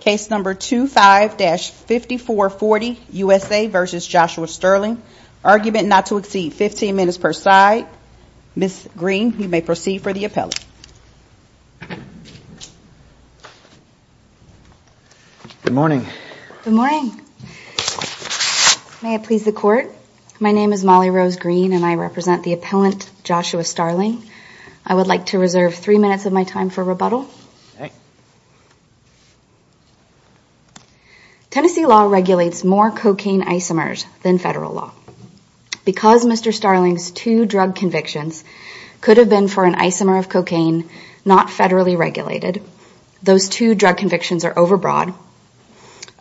Case number 25-5440, USA v. Joshua Starling. Argument not to exceed 15 minutes per side. Ms. Green, you may proceed for the appellate. Good morning. Good morning. May it please the Court. My name is Molly Rose Green and I represent the appellant Joshua Starling. I would like to reserve three minutes of my time for rebuttal. Tennessee law regulates more cocaine isomers than federal law. Because Mr. Starling's two drug convictions could have been for an isomer of cocaine not federally regulated, those two drug convictions are overbroad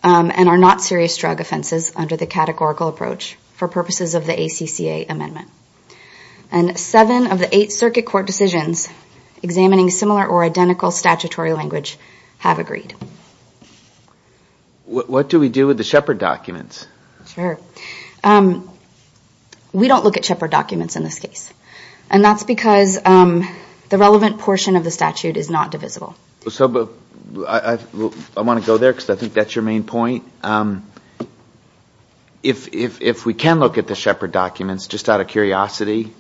and are not serious drug offenses under the categorical approach for purposes of the ACCA amendment. Seven of the eight circuit court decisions examining similar or identical statutory language have agreed. What do we do with the Shepard documents? We don't look at Shepard documents in this case. And that's because the relevant portion of the statute is not divisible. I want to go there because I think that's your main point. If we can look at the Shepard documents, just out of curiosity,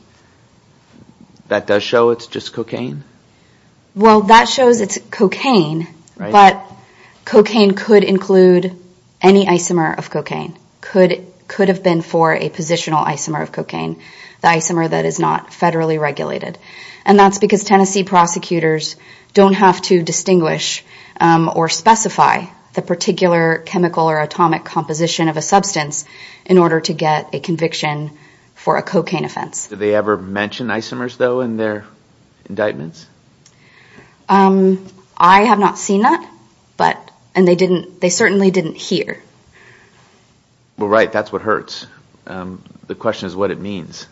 that does show it's just cocaine? Well, that shows it's cocaine, but cocaine could include any isomer of cocaine. It could have been for a positional isomer of cocaine, the isomer that is not federally regulated. And that's because Tennessee prosecutors don't have to distinguish or specify the particular chemical or atomic composition of a substance in order to get a conviction for a cocaine offense. Did they ever mention isomers, though, in their indictments? I have not seen that, and they certainly didn't hear. Well, right, that's what hurts. The question is what it means.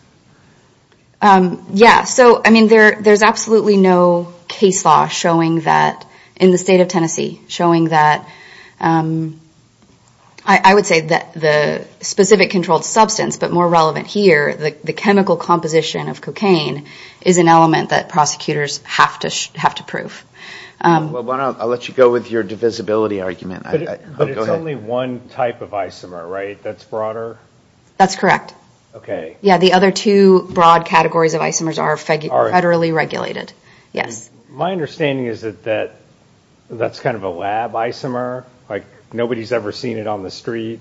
Yeah, so, I mean, there's absolutely no case law showing that in the state of Tennessee, showing that I would say that the specific controlled substance, but more relevant here, the chemical composition of cocaine is an element that prosecutors have to prove. I'll let you go with your divisibility argument. But it's only one type of isomer, right? That's broader? That's correct. Okay. Yeah, the other two broad categories of isomers are federally regulated. Yes? My understanding is that that's kind of a lab isomer, like nobody's ever seen it on the street.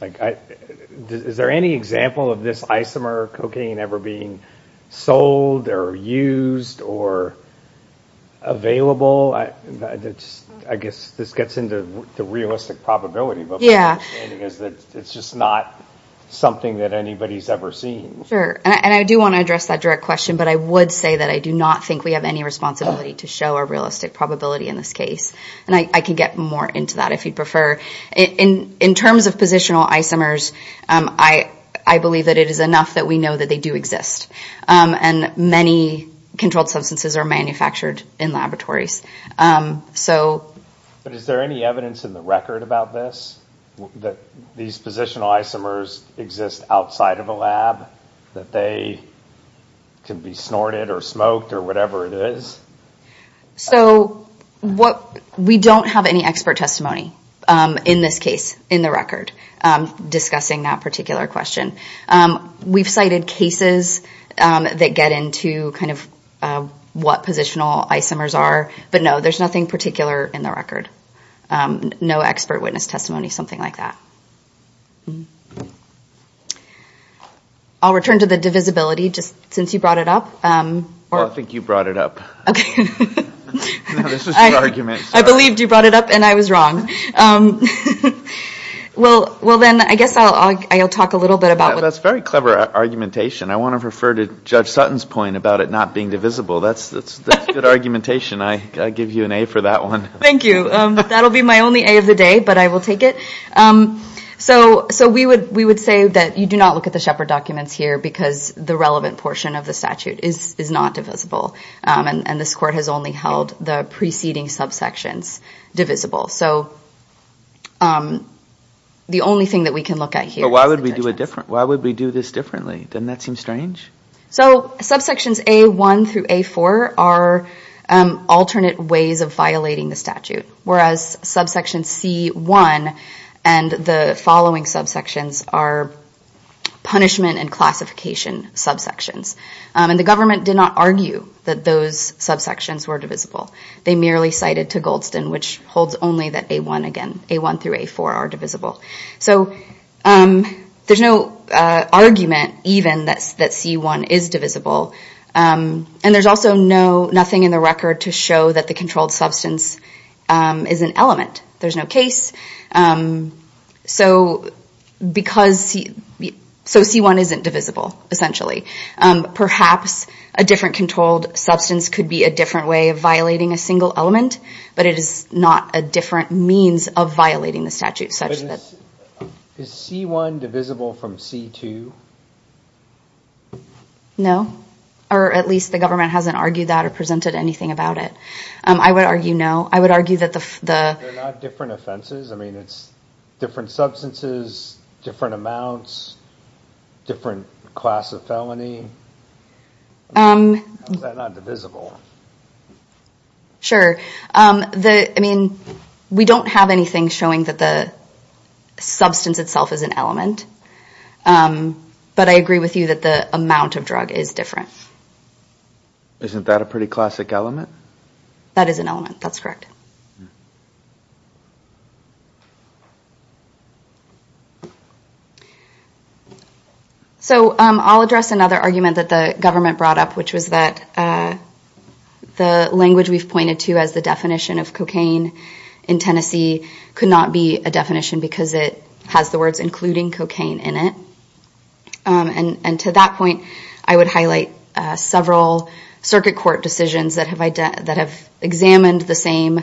Is there any example of this isomer cocaine ever being sold or used or available? I guess this gets into the realistic probability. Yeah. My understanding is that it's just not something that anybody's ever seen. And I do want to address that direct question, but I would say that I do not think we have any responsibility to show a realistic probability in this case. And I can get more into that if you'd prefer. In terms of positional isomers, I believe that it is enough that we know that they do exist. And many controlled substances are manufactured in laboratories. But is there any evidence in the record about this, that these positional isomers exist outside of a lab, that they can be snorted or smoked or whatever it is? So we don't have any expert testimony in this case, in the record, discussing that particular question. We've cited cases that get into kind of what positional isomers are. But no, there's nothing particular in the record. No expert witness testimony, something like that. I'll return to the divisibility, just since you brought it up. I think you brought it up. Okay. No, this is your argument. I believed you brought it up, and I was wrong. Well, then, I guess I'll talk a little bit about it. That's very clever argumentation. I want to refer to Judge Sutton's point about it not being divisible. That's good argumentation. I give you an A for that one. Thank you. That'll be my only A of the day, but I will take it. So we would say that you do not look at the Shepard documents here, because the relevant portion of the statute is not divisible. And this court has only held the preceding subsections divisible. So the only thing that we can look at here is the judges. But why would we do this differently? Doesn't that seem strange? So subsections A1 through A4 are alternate ways of violating the statute, whereas subsection C1 and the following subsections are punishment and classification subsections. And the government did not argue that those subsections were divisible. They merely cited to Goldston, which holds only that A1 through A4 are divisible. So there's no argument, even, that C1 is divisible. And there's also nothing in the record to show that the controlled substance is an element. There's no case. So C1 isn't divisible, essentially. Perhaps a different controlled substance could be a different way of violating a single element, but it is not a different means of violating the statute. Is C1 divisible from C2? No. Or at least the government hasn't argued that or presented anything about it. I would argue no. They're not different offenses. I mean, it's different substances, different amounts, different class of felony. How is that not divisible? Sure. I mean, we don't have anything showing that the substance itself is an element, but I agree with you that the amount of drug is different. Isn't that a pretty classic element? That is an element. That's correct. So I'll address another argument that the government brought up, which was that the language we've pointed to as the definition of cocaine in Tennessee could not be a definition because it has the words including cocaine in it. And to that point, I would highlight several circuit court decisions that have examined the same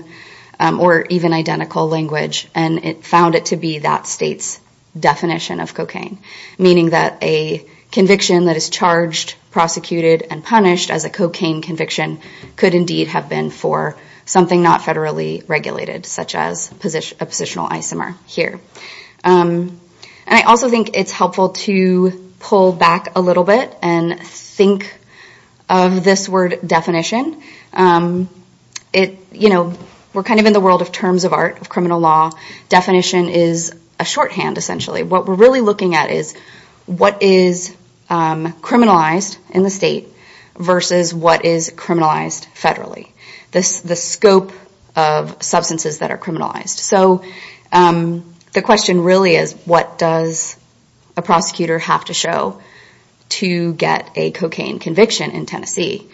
or even identical language and found it to be that state's definition of cocaine, meaning that a conviction that is charged, prosecuted, and punished as a cocaine conviction could indeed have been for something not federally regulated, such as a positional isomer here. And I also think it's helpful to pull back a little bit and think of this word definition. We're kind of in the world of terms of art, of criminal law. Definition is a shorthand, essentially. What we're really looking at is what is criminalized in the state versus what is criminalized federally, the scope of substances that are criminalized. So the question really is what does a prosecutor have to show to get a cocaine conviction in Tennessee?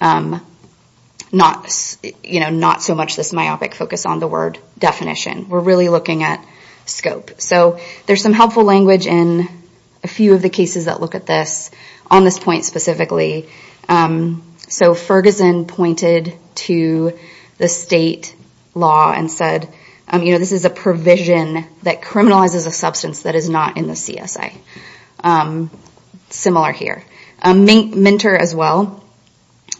Not so much this myopic focus on the word definition. We're really looking at scope. So there's some helpful language in a few of the cases that look at this on this point specifically. So Ferguson pointed to the state law and said, this is a provision that criminalizes a substance that is not in the CSA. Similar here. Minter as well,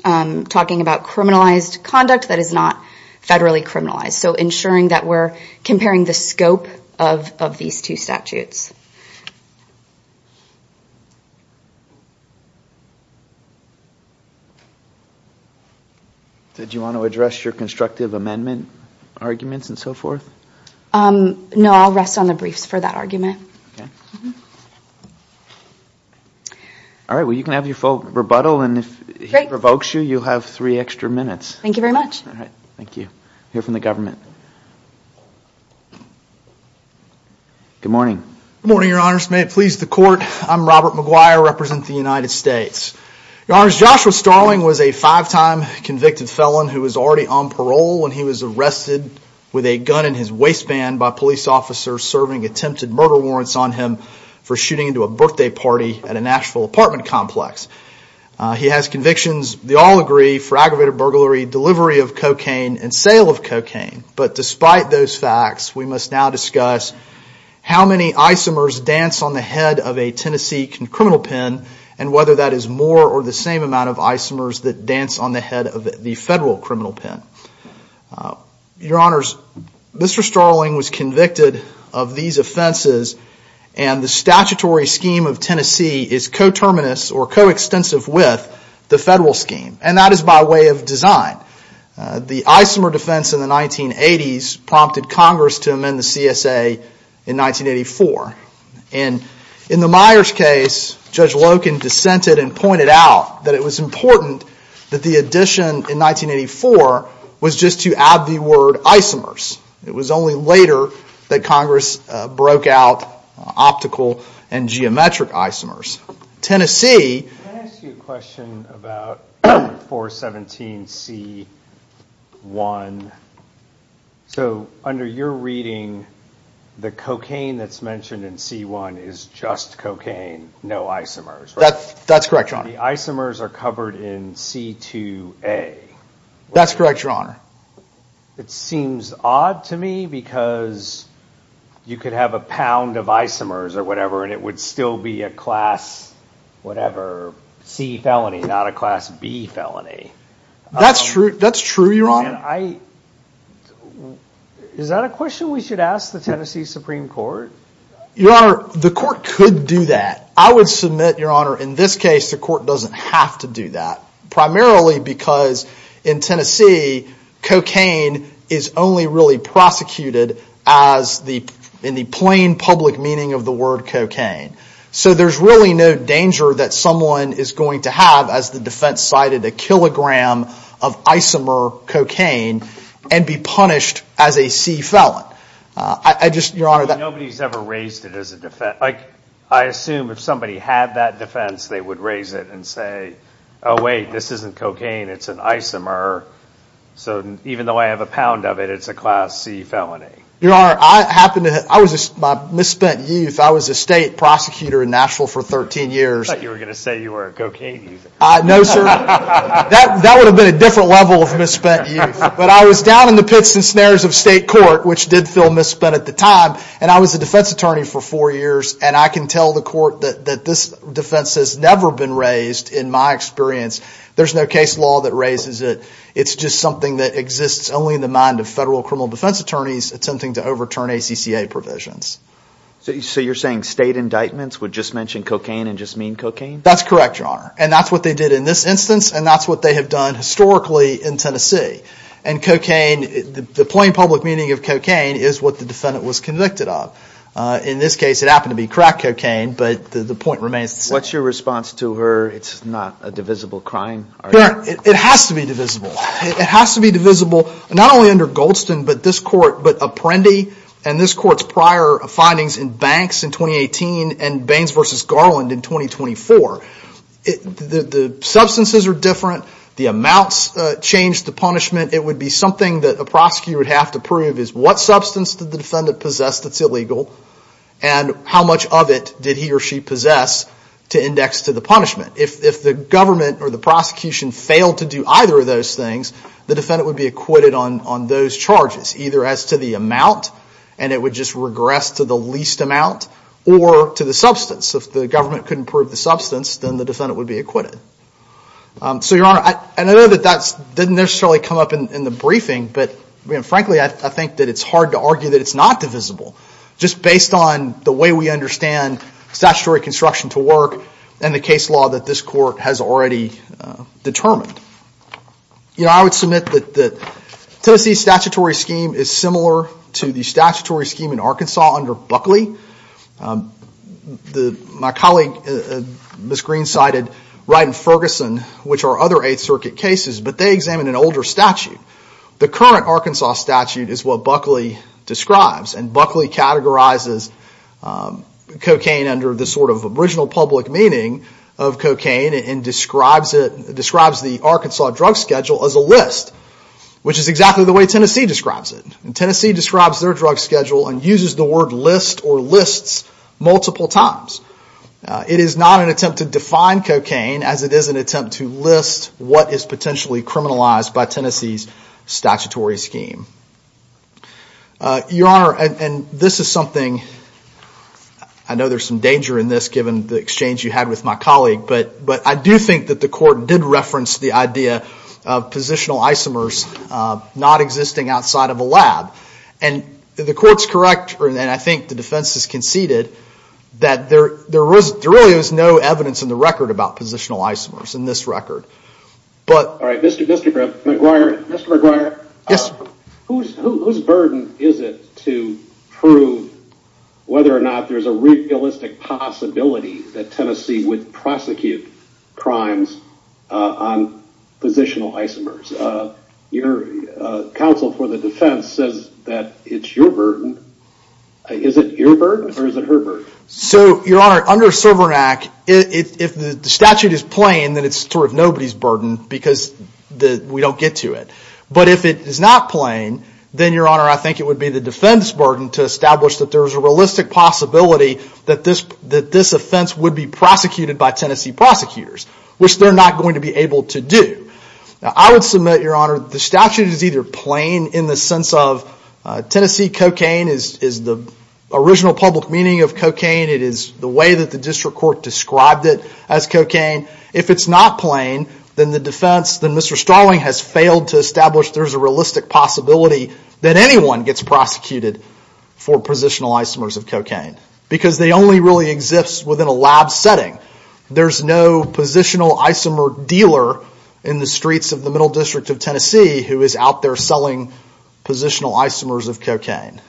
talking about criminalized conduct that is not federally criminalized. So ensuring that we're comparing the scope of these two statutes. Did you want to address your constructive amendment arguments and so forth? No. I'll rest on the briefs for that argument. All right. Well, you can have your full rebuttal. And if he provokes you, you'll have three extra minutes. Thank you very much. All right. Thank you. Hear from the government. Good morning. Good morning, Your Honor. May it please the court. I'm Robert McGuire. I represent the United States. Your Honor, Joshua Starling was a five-time convicted felon who was already on parole when he was arrested with a gun in his waistband by police officers serving attempted murder warrants on him for shooting into a birthday party at a Nashville apartment complex. He has convictions, they all agree, for aggravated burglary, delivery of cocaine, and sale of cocaine. But despite those facts, we must now discuss how many isomers dance on the head of a Tennessee criminal pen and whether that is more or the same amount of isomers that dance on the head of the federal criminal pen. Your Honors, Mr. Starling was convicted of these offenses, and the statutory scheme of Tennessee is coterminous or coextensive with the federal scheme, and that is by way of design. The isomer defense in the 1980s prompted Congress to amend the CSA in 1984. And in the Myers case, Judge Loken dissented and pointed out that it was important that the addition in 1984 was just to add the word isomers. It was only later that Congress broke out optical and geometric isomers. Can I ask you a question about 417C1? So under your reading, the cocaine that's mentioned in C1 is just cocaine, no isomers, right? That's correct, Your Honor. The isomers are covered in C2A. That's correct, Your Honor. It seems odd to me because you could have a pound of isomers or whatever and it would still be a Class C felony, not a Class B felony. That's true, Your Honor. Is that a question we should ask the Tennessee Supreme Court? Your Honor, the court could do that. I would submit, Your Honor, in this case the court doesn't have to do that, primarily because in Tennessee cocaine is only really prosecuted in the plain public meaning of the word cocaine. So there's really no danger that someone is going to have, as the defense cited, a kilogram of isomer cocaine and be punished as a C felon. Nobody's ever raised it as a defense. I assume if somebody had that defense they would raise it and say, oh wait, this isn't cocaine, it's an isomer, so even though I have a pound of it, it's a Class C felony. Your Honor, I was a misspent youth. I was a state prosecutor in Nashville for 13 years. I thought you were going to say you were a cocaine user. No, sir. That would have been a different level of misspent youth. But I was down in the pits and snares of state court, which did feel misspent at the time, and I was a defense attorney for four years. I can tell the court that this defense has never been raised in my experience. There's no case law that raises it. It's just something that exists only in the mind of federal criminal defense attorneys attempting to overturn ACCA provisions. So you're saying state indictments would just mention cocaine and just mean cocaine? That's correct, Your Honor, and that's what they did in this instance, and that's what they have done historically in Tennessee. And cocaine, the plain public meaning of cocaine is what the defendant was convicted of. In this case it happened to be crack cocaine, but the point remains the same. What's your response to her, it's not a divisible crime? It has to be divisible. It has to be divisible, not only under Goldston, but this court, but Apprendi and this court's prior findings in Banks in 2018 and Baines v. Garland in 2024. The substances are different. The amounts change to punishment. It would be something that a prosecutor would have to prove is what substance did the defendant possess that's illegal and how much of it did he or she possess to index to the punishment. If the government or the prosecution failed to do either of those things, the defendant would be acquitted on those charges, either as to the amount and it would just regress to the least amount or to the substance. If the government couldn't prove the substance, then the defendant would be acquitted. So, Your Honor, I know that that didn't necessarily come up in the briefing, but, frankly, I think that it's hard to argue that it's not divisible, just based on the way we understand statutory construction to work and the case law that this court has already determined. I would submit that Tennessee's statutory scheme is similar to the statutory scheme in Arkansas under Buckley. My colleague, Ms. Green, cited Wright and Ferguson, which are other Eighth Circuit cases, but they examined an older statute. The current Arkansas statute is what Buckley describes, and Buckley categorizes cocaine under the sort of original public meaning of cocaine and describes the Arkansas drug schedule as a list, which is exactly the way Tennessee describes it. Tennessee describes their drug schedule and uses the word list or lists multiple times. It is not an attempt to define cocaine, as it is an attempt to list what is potentially criminalized by Tennessee's statutory scheme. Your Honor, and this is something, I know there's some danger in this, given the exchange you had with my colleague, but I do think that the court did reference the idea of positional isomers not existing outside of a lab. The court's correct, and I think the defense has conceded, that there really was no evidence in the record about positional isomers in this record. Mr. McGuire, whose burden is it to prove whether or not there's a realistic possibility that Tennessee would prosecute crimes on positional isomers? Your counsel for the defense says that it's your burden. Is it your burden or is it her burden? So, Your Honor, under Cervernak, if the statute is plain, then it's sort of nobody's burden because we don't get to it. But if it is not plain, then, Your Honor, I think it would be the defense's burden to establish that there's a realistic possibility that this offense would be prosecuted by Tennessee prosecutors, which they're not going to be able to do. Now, I would submit, Your Honor, the statute is either plain in the sense of Tennessee cocaine is the original public meaning of cocaine. It is the way that the district court described it as cocaine. If it's not plain, then the defense, then Mr. Starling, has failed to establish there's a realistic possibility that anyone gets prosecuted for positional isomers of cocaine because they only really exist within a lab setting. There's no positional isomer dealer in the streets of the Middle District of Tennessee who is out there selling positional isomers of cocaine.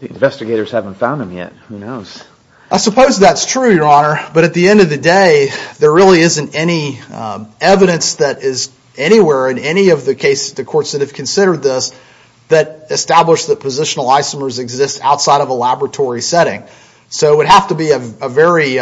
The investigators haven't found them yet. Who knows? I suppose that's true, Your Honor, but at the end of the day, there really isn't any evidence that is anywhere in any of the cases, the courts that have considered this, that establish that positional isomers exist outside of a laboratory setting. So it would have to be a very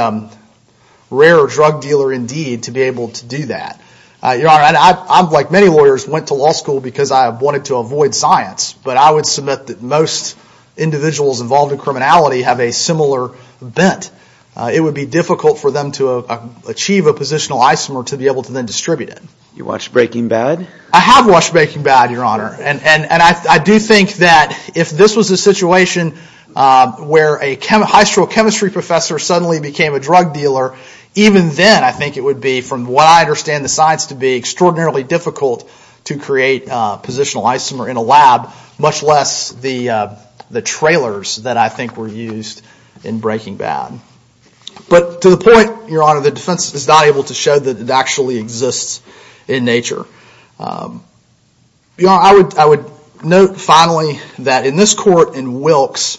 rare drug dealer indeed to be able to do that. Your Honor, I, like many lawyers, went to law school because I wanted to avoid science, but I would submit that most individuals involved in criminality have a similar bent. It would be difficult for them to achieve a positional isomer to be able to then distribute it. You watched Breaking Bad? I have watched Breaking Bad, Your Honor, and I do think that if this was a situation where a high school chemistry professor suddenly became a drug dealer, even then I think it would be, from what I understand the science to be, extraordinarily difficult to create a positional isomer in a lab, much less the trailers that I think were used in Breaking Bad. But to the point, Your Honor, the defense is not able to show that it actually exists in nature. Your Honor, I would note finally that in this court, in Wilkes,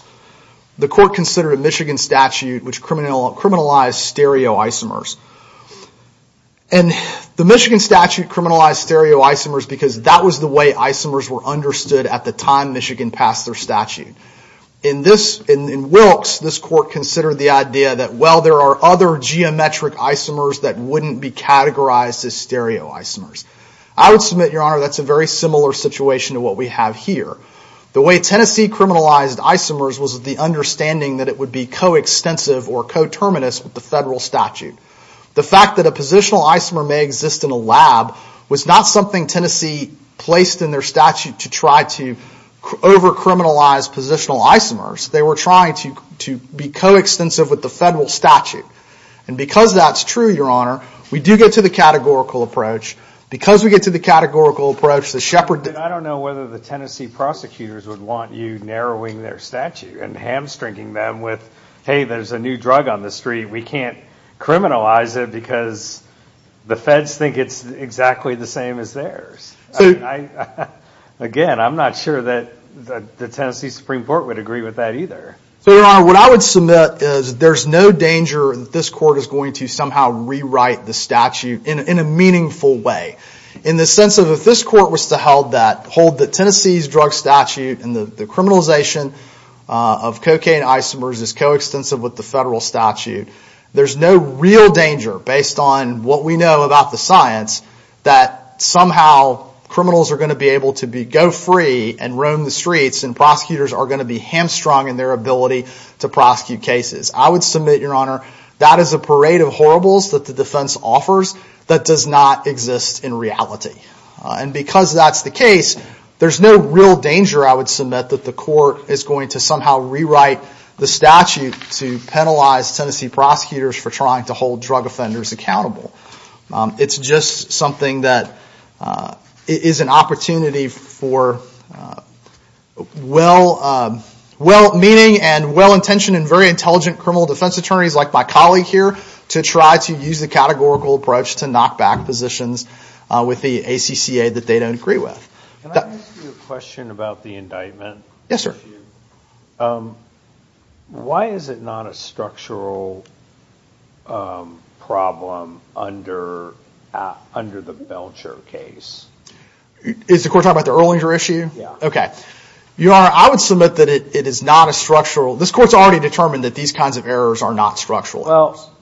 the court considered a Michigan statute which criminalized stereoisomers. And the Michigan statute criminalized stereoisomers because that was the way isomers were understood at the time Michigan passed their statute. In Wilkes, this court considered the idea that, well, there are other geometric isomers that wouldn't be categorized as stereoisomers. I would submit, Your Honor, that's a very similar situation to what we have here. The way Tennessee criminalized isomers was the understanding that it would be coextensive or coterminous with the federal statute. The fact that a positional isomer may exist in a lab was not something Tennessee placed in their statute to try to over-criminalize positional isomers. They were trying to be coextensive with the federal statute. And because that's true, Your Honor, we do get to the categorical approach. Because we get to the categorical approach, the shepherd... I don't know whether the Tennessee prosecutors would want you narrowing their statute and hamstringing them with, hey, there's a new drug on the street. We can't criminalize it because the feds think it's exactly the same as theirs. Again, I'm not sure that the Tennessee Supreme Court would agree with that either. Your Honor, what I would submit is there's no danger that this court is going to somehow rewrite the statute in a meaningful way. In the sense of if this court was to hold that Tennessee's drug statute and the criminalization of cocaine isomers is coextensive with the federal statute, there's no real danger based on what we know about the science that somehow criminals are going to be able to go free and roam the streets and prosecutors are going to be hamstrung in their ability to prosecute cases. I would submit, Your Honor, that is a parade of horribles that the defense offers that does not exist in reality. And because that's the case, there's no real danger, I would submit, that the court is going to somehow rewrite the statute to penalize Tennessee prosecutors for trying to hold drug offenders accountable. It's just something that is an opportunity for well-meaning and well-intentioned and very intelligent criminal defense attorneys like my colleague here to try to use the categorical approach to knock back positions with the ACCA that they don't agree with. Can I ask you a question about the indictment? Yes, sir. Why is it not a structural problem under the Belcher case? Is the court talking about the Erlinger issue? Yes. Your Honor, I would submit that it is not a structural. This court's already determined that these kinds of errors are not structural errors. Well,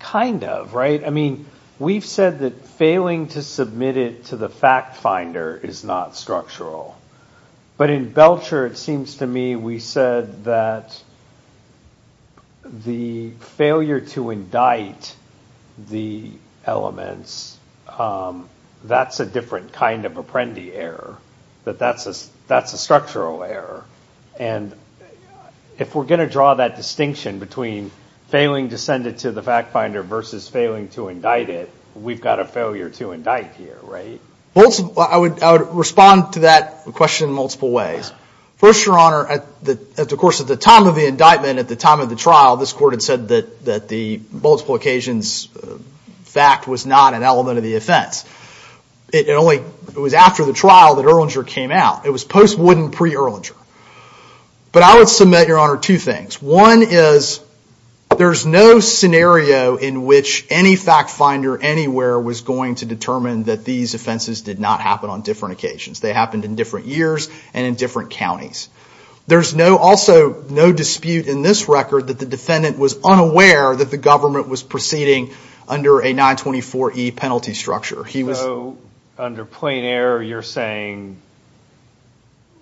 kind of, right? I mean, we've said that failing to submit it to the fact finder is not structural. But in Belcher, it seems to me we said that the failure to indict the elements, that's a different kind of apprendi error, that that's a structural error. And if we're going to draw that distinction between failing to send it to the fact finder versus failing to indict it, we've got a failure to indict here, right? I would respond to that question in multiple ways. First, Your Honor, of course, at the time of the indictment, at the time of the trial, this court had said that the multiple occasions fact was not an element of the offense. It was after the trial that Erlinger came out. It was post-Wooden, pre-Erlinger. But I would submit, Your Honor, two things. One is there's no scenario in which any fact finder anywhere was going to determine that these offenses did not happen on different occasions. They happened in different years and in different counties. There's also no dispute in this record that the defendant was unaware that the government was proceeding under a 924E penalty structure. So under plain error, you're saying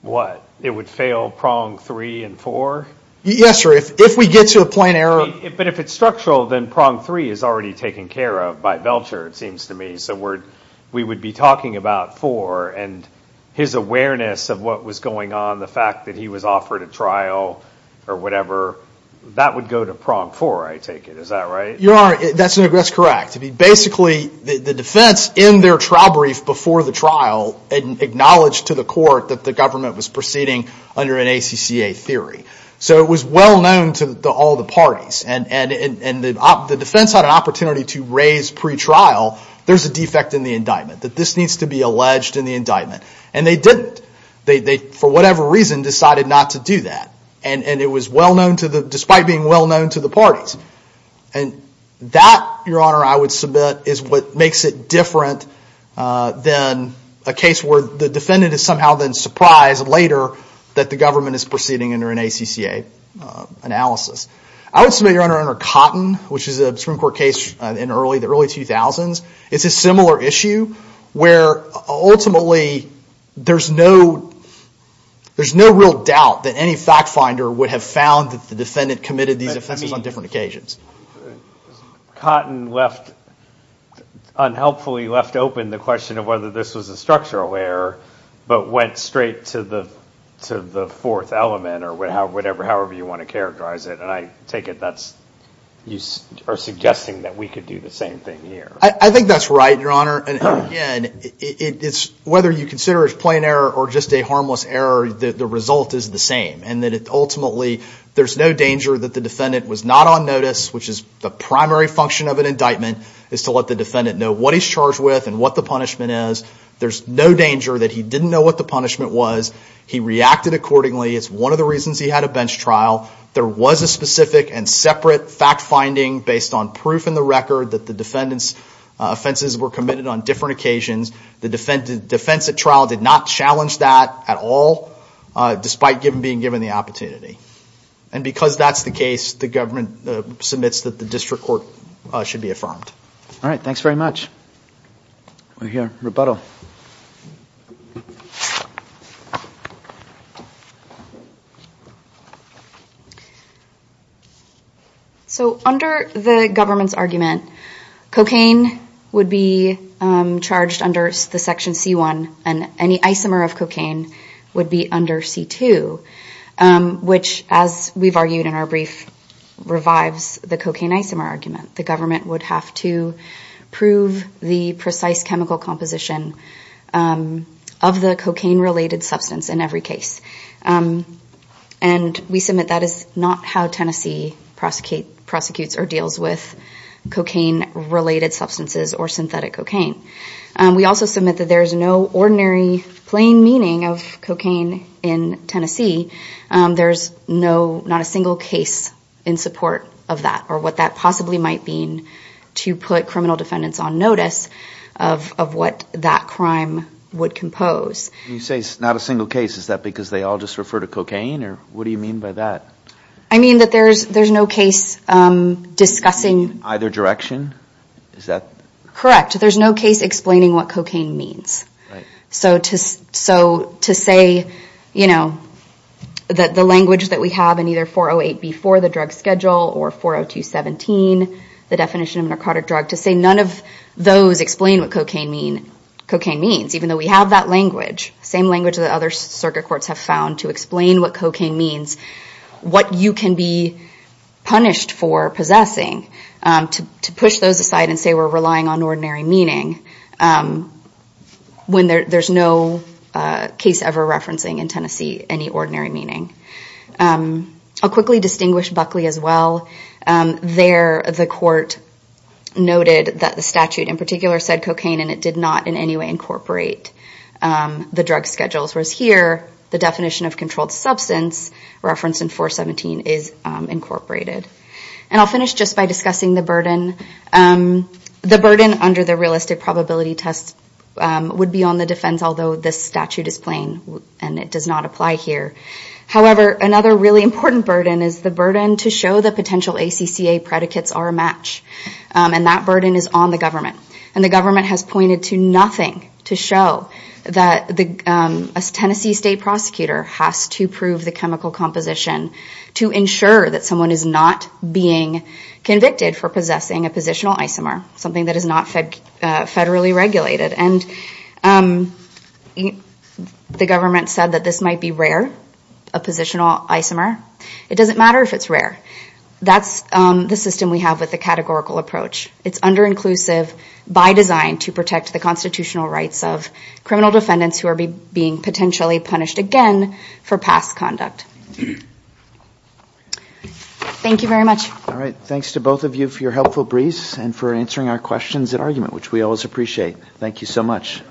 what? It would fail prong three and four? Yes, sir, if we get to a plain error. But if it's structural, then prong three is already taken care of by Belcher, it seems to me. So we would be talking about four, and his awareness of what was going on, the fact that he was offered a trial or whatever, that would go to prong four, I take it. Is that right? Your Honor, that's correct. Basically, the defense in their trial brief before the trial acknowledged to the court that the government was proceeding under an ACCA theory. So it was well known to all the parties. And the defense had an opportunity to raise pre-trial, there's a defect in the indictment, that this needs to be alleged in the indictment. And they didn't. They, for whatever reason, decided not to do that. And it was well known to the, despite being well known to the parties. And that, Your Honor, I would submit is what makes it different than a case where the defendant is somehow then surprised later that the government is proceeding under an ACCA analysis. I would submit, Your Honor, under Cotton, which is a Supreme Court case in the early 2000s, it's a similar issue where ultimately there's no real doubt that any fact finder would have found that the defendant committed these offenses on different occasions. Cotton left, unhelpfully left open the question of whether this was a structural error, but went straight to the fourth element or however you want to characterize it. And I take it that you are suggesting that we could do the same thing here. I think that's right, Your Honor. And again, whether you consider it as plain error or just a harmless error, the result is the same. And that ultimately there's no danger that the defendant was not on notice, which is the primary function of an indictment, is to let the defendant know what he's charged with and what the punishment is. There's no danger that he didn't know what the punishment was. He reacted accordingly. It's one of the reasons he had a bench trial. There was a specific and separate fact finding based on proof in the record that the defendant's offenses were committed on different occasions. The defense at trial did not challenge that at all, despite being given the opportunity. And because that's the case, the government submits that the district court should be affirmed. All right. Thanks very much. We'll hear rebuttal. So under the government's argument, cocaine would be charged under the Section C1 and any isomer of cocaine would be under C2, which, as we've argued in our brief, revives the cocaine isomer argument. The government would have to prove the precise chemical composition of the cocaine-related substance in every case. And we submit that is not how Tennessee prosecutes or deals with cocaine-related substances or synthetic cocaine. We also submit that there is no ordinary, plain meaning of cocaine in Tennessee. There's not a single case in support of that or what that possibly might mean to put criminal defendants on notice of what that crime would compose. When you say not a single case, is that because they all just refer to cocaine or what do you mean by that? I mean that there's no case discussing... Either direction? Is that... Correct. There's no case explaining what cocaine means. Right. So to say, you know, that the language that we have in either 408 before the drug schedule or 402.17, the definition of a narcotic drug, to say none of those explain what cocaine means, even though we have that language, same language that other circuit courts have found to explain what cocaine means, what you can be punished for possessing, to push those aside and say we're relying on ordinary meaning when there's no case ever referencing in Tennessee any ordinary meaning. I'll quickly distinguish Buckley as well. There, the court noted that the statute in particular said cocaine and it did not in any way incorporate the drug schedules. Whereas here, the definition of controlled substance, referenced in 417, is incorporated. And I'll finish just by discussing the burden. The burden under the realistic probability test would be on the defense, although this statute is plain and it does not apply here. However, another really important burden is the burden to show the potential ACCA predicates are a match. And that burden is on the government. And the government has pointed to nothing to show that a Tennessee state prosecutor has to prove the chemical composition to ensure that someone is not being convicted for possessing a positional isomer, something that is not federally regulated. And the government said that this might be rare, a positional isomer. It doesn't matter if it's rare. That's the system we have with the categorical approach. It's under-inclusive by design to protect the constitutional rights of criminal defendants who are being potentially punished again for past conduct. Thank you very much. All right. Thanks to both of you for your helpful briefs and for answering our questions at Argument, which we always appreciate. Thank you so much.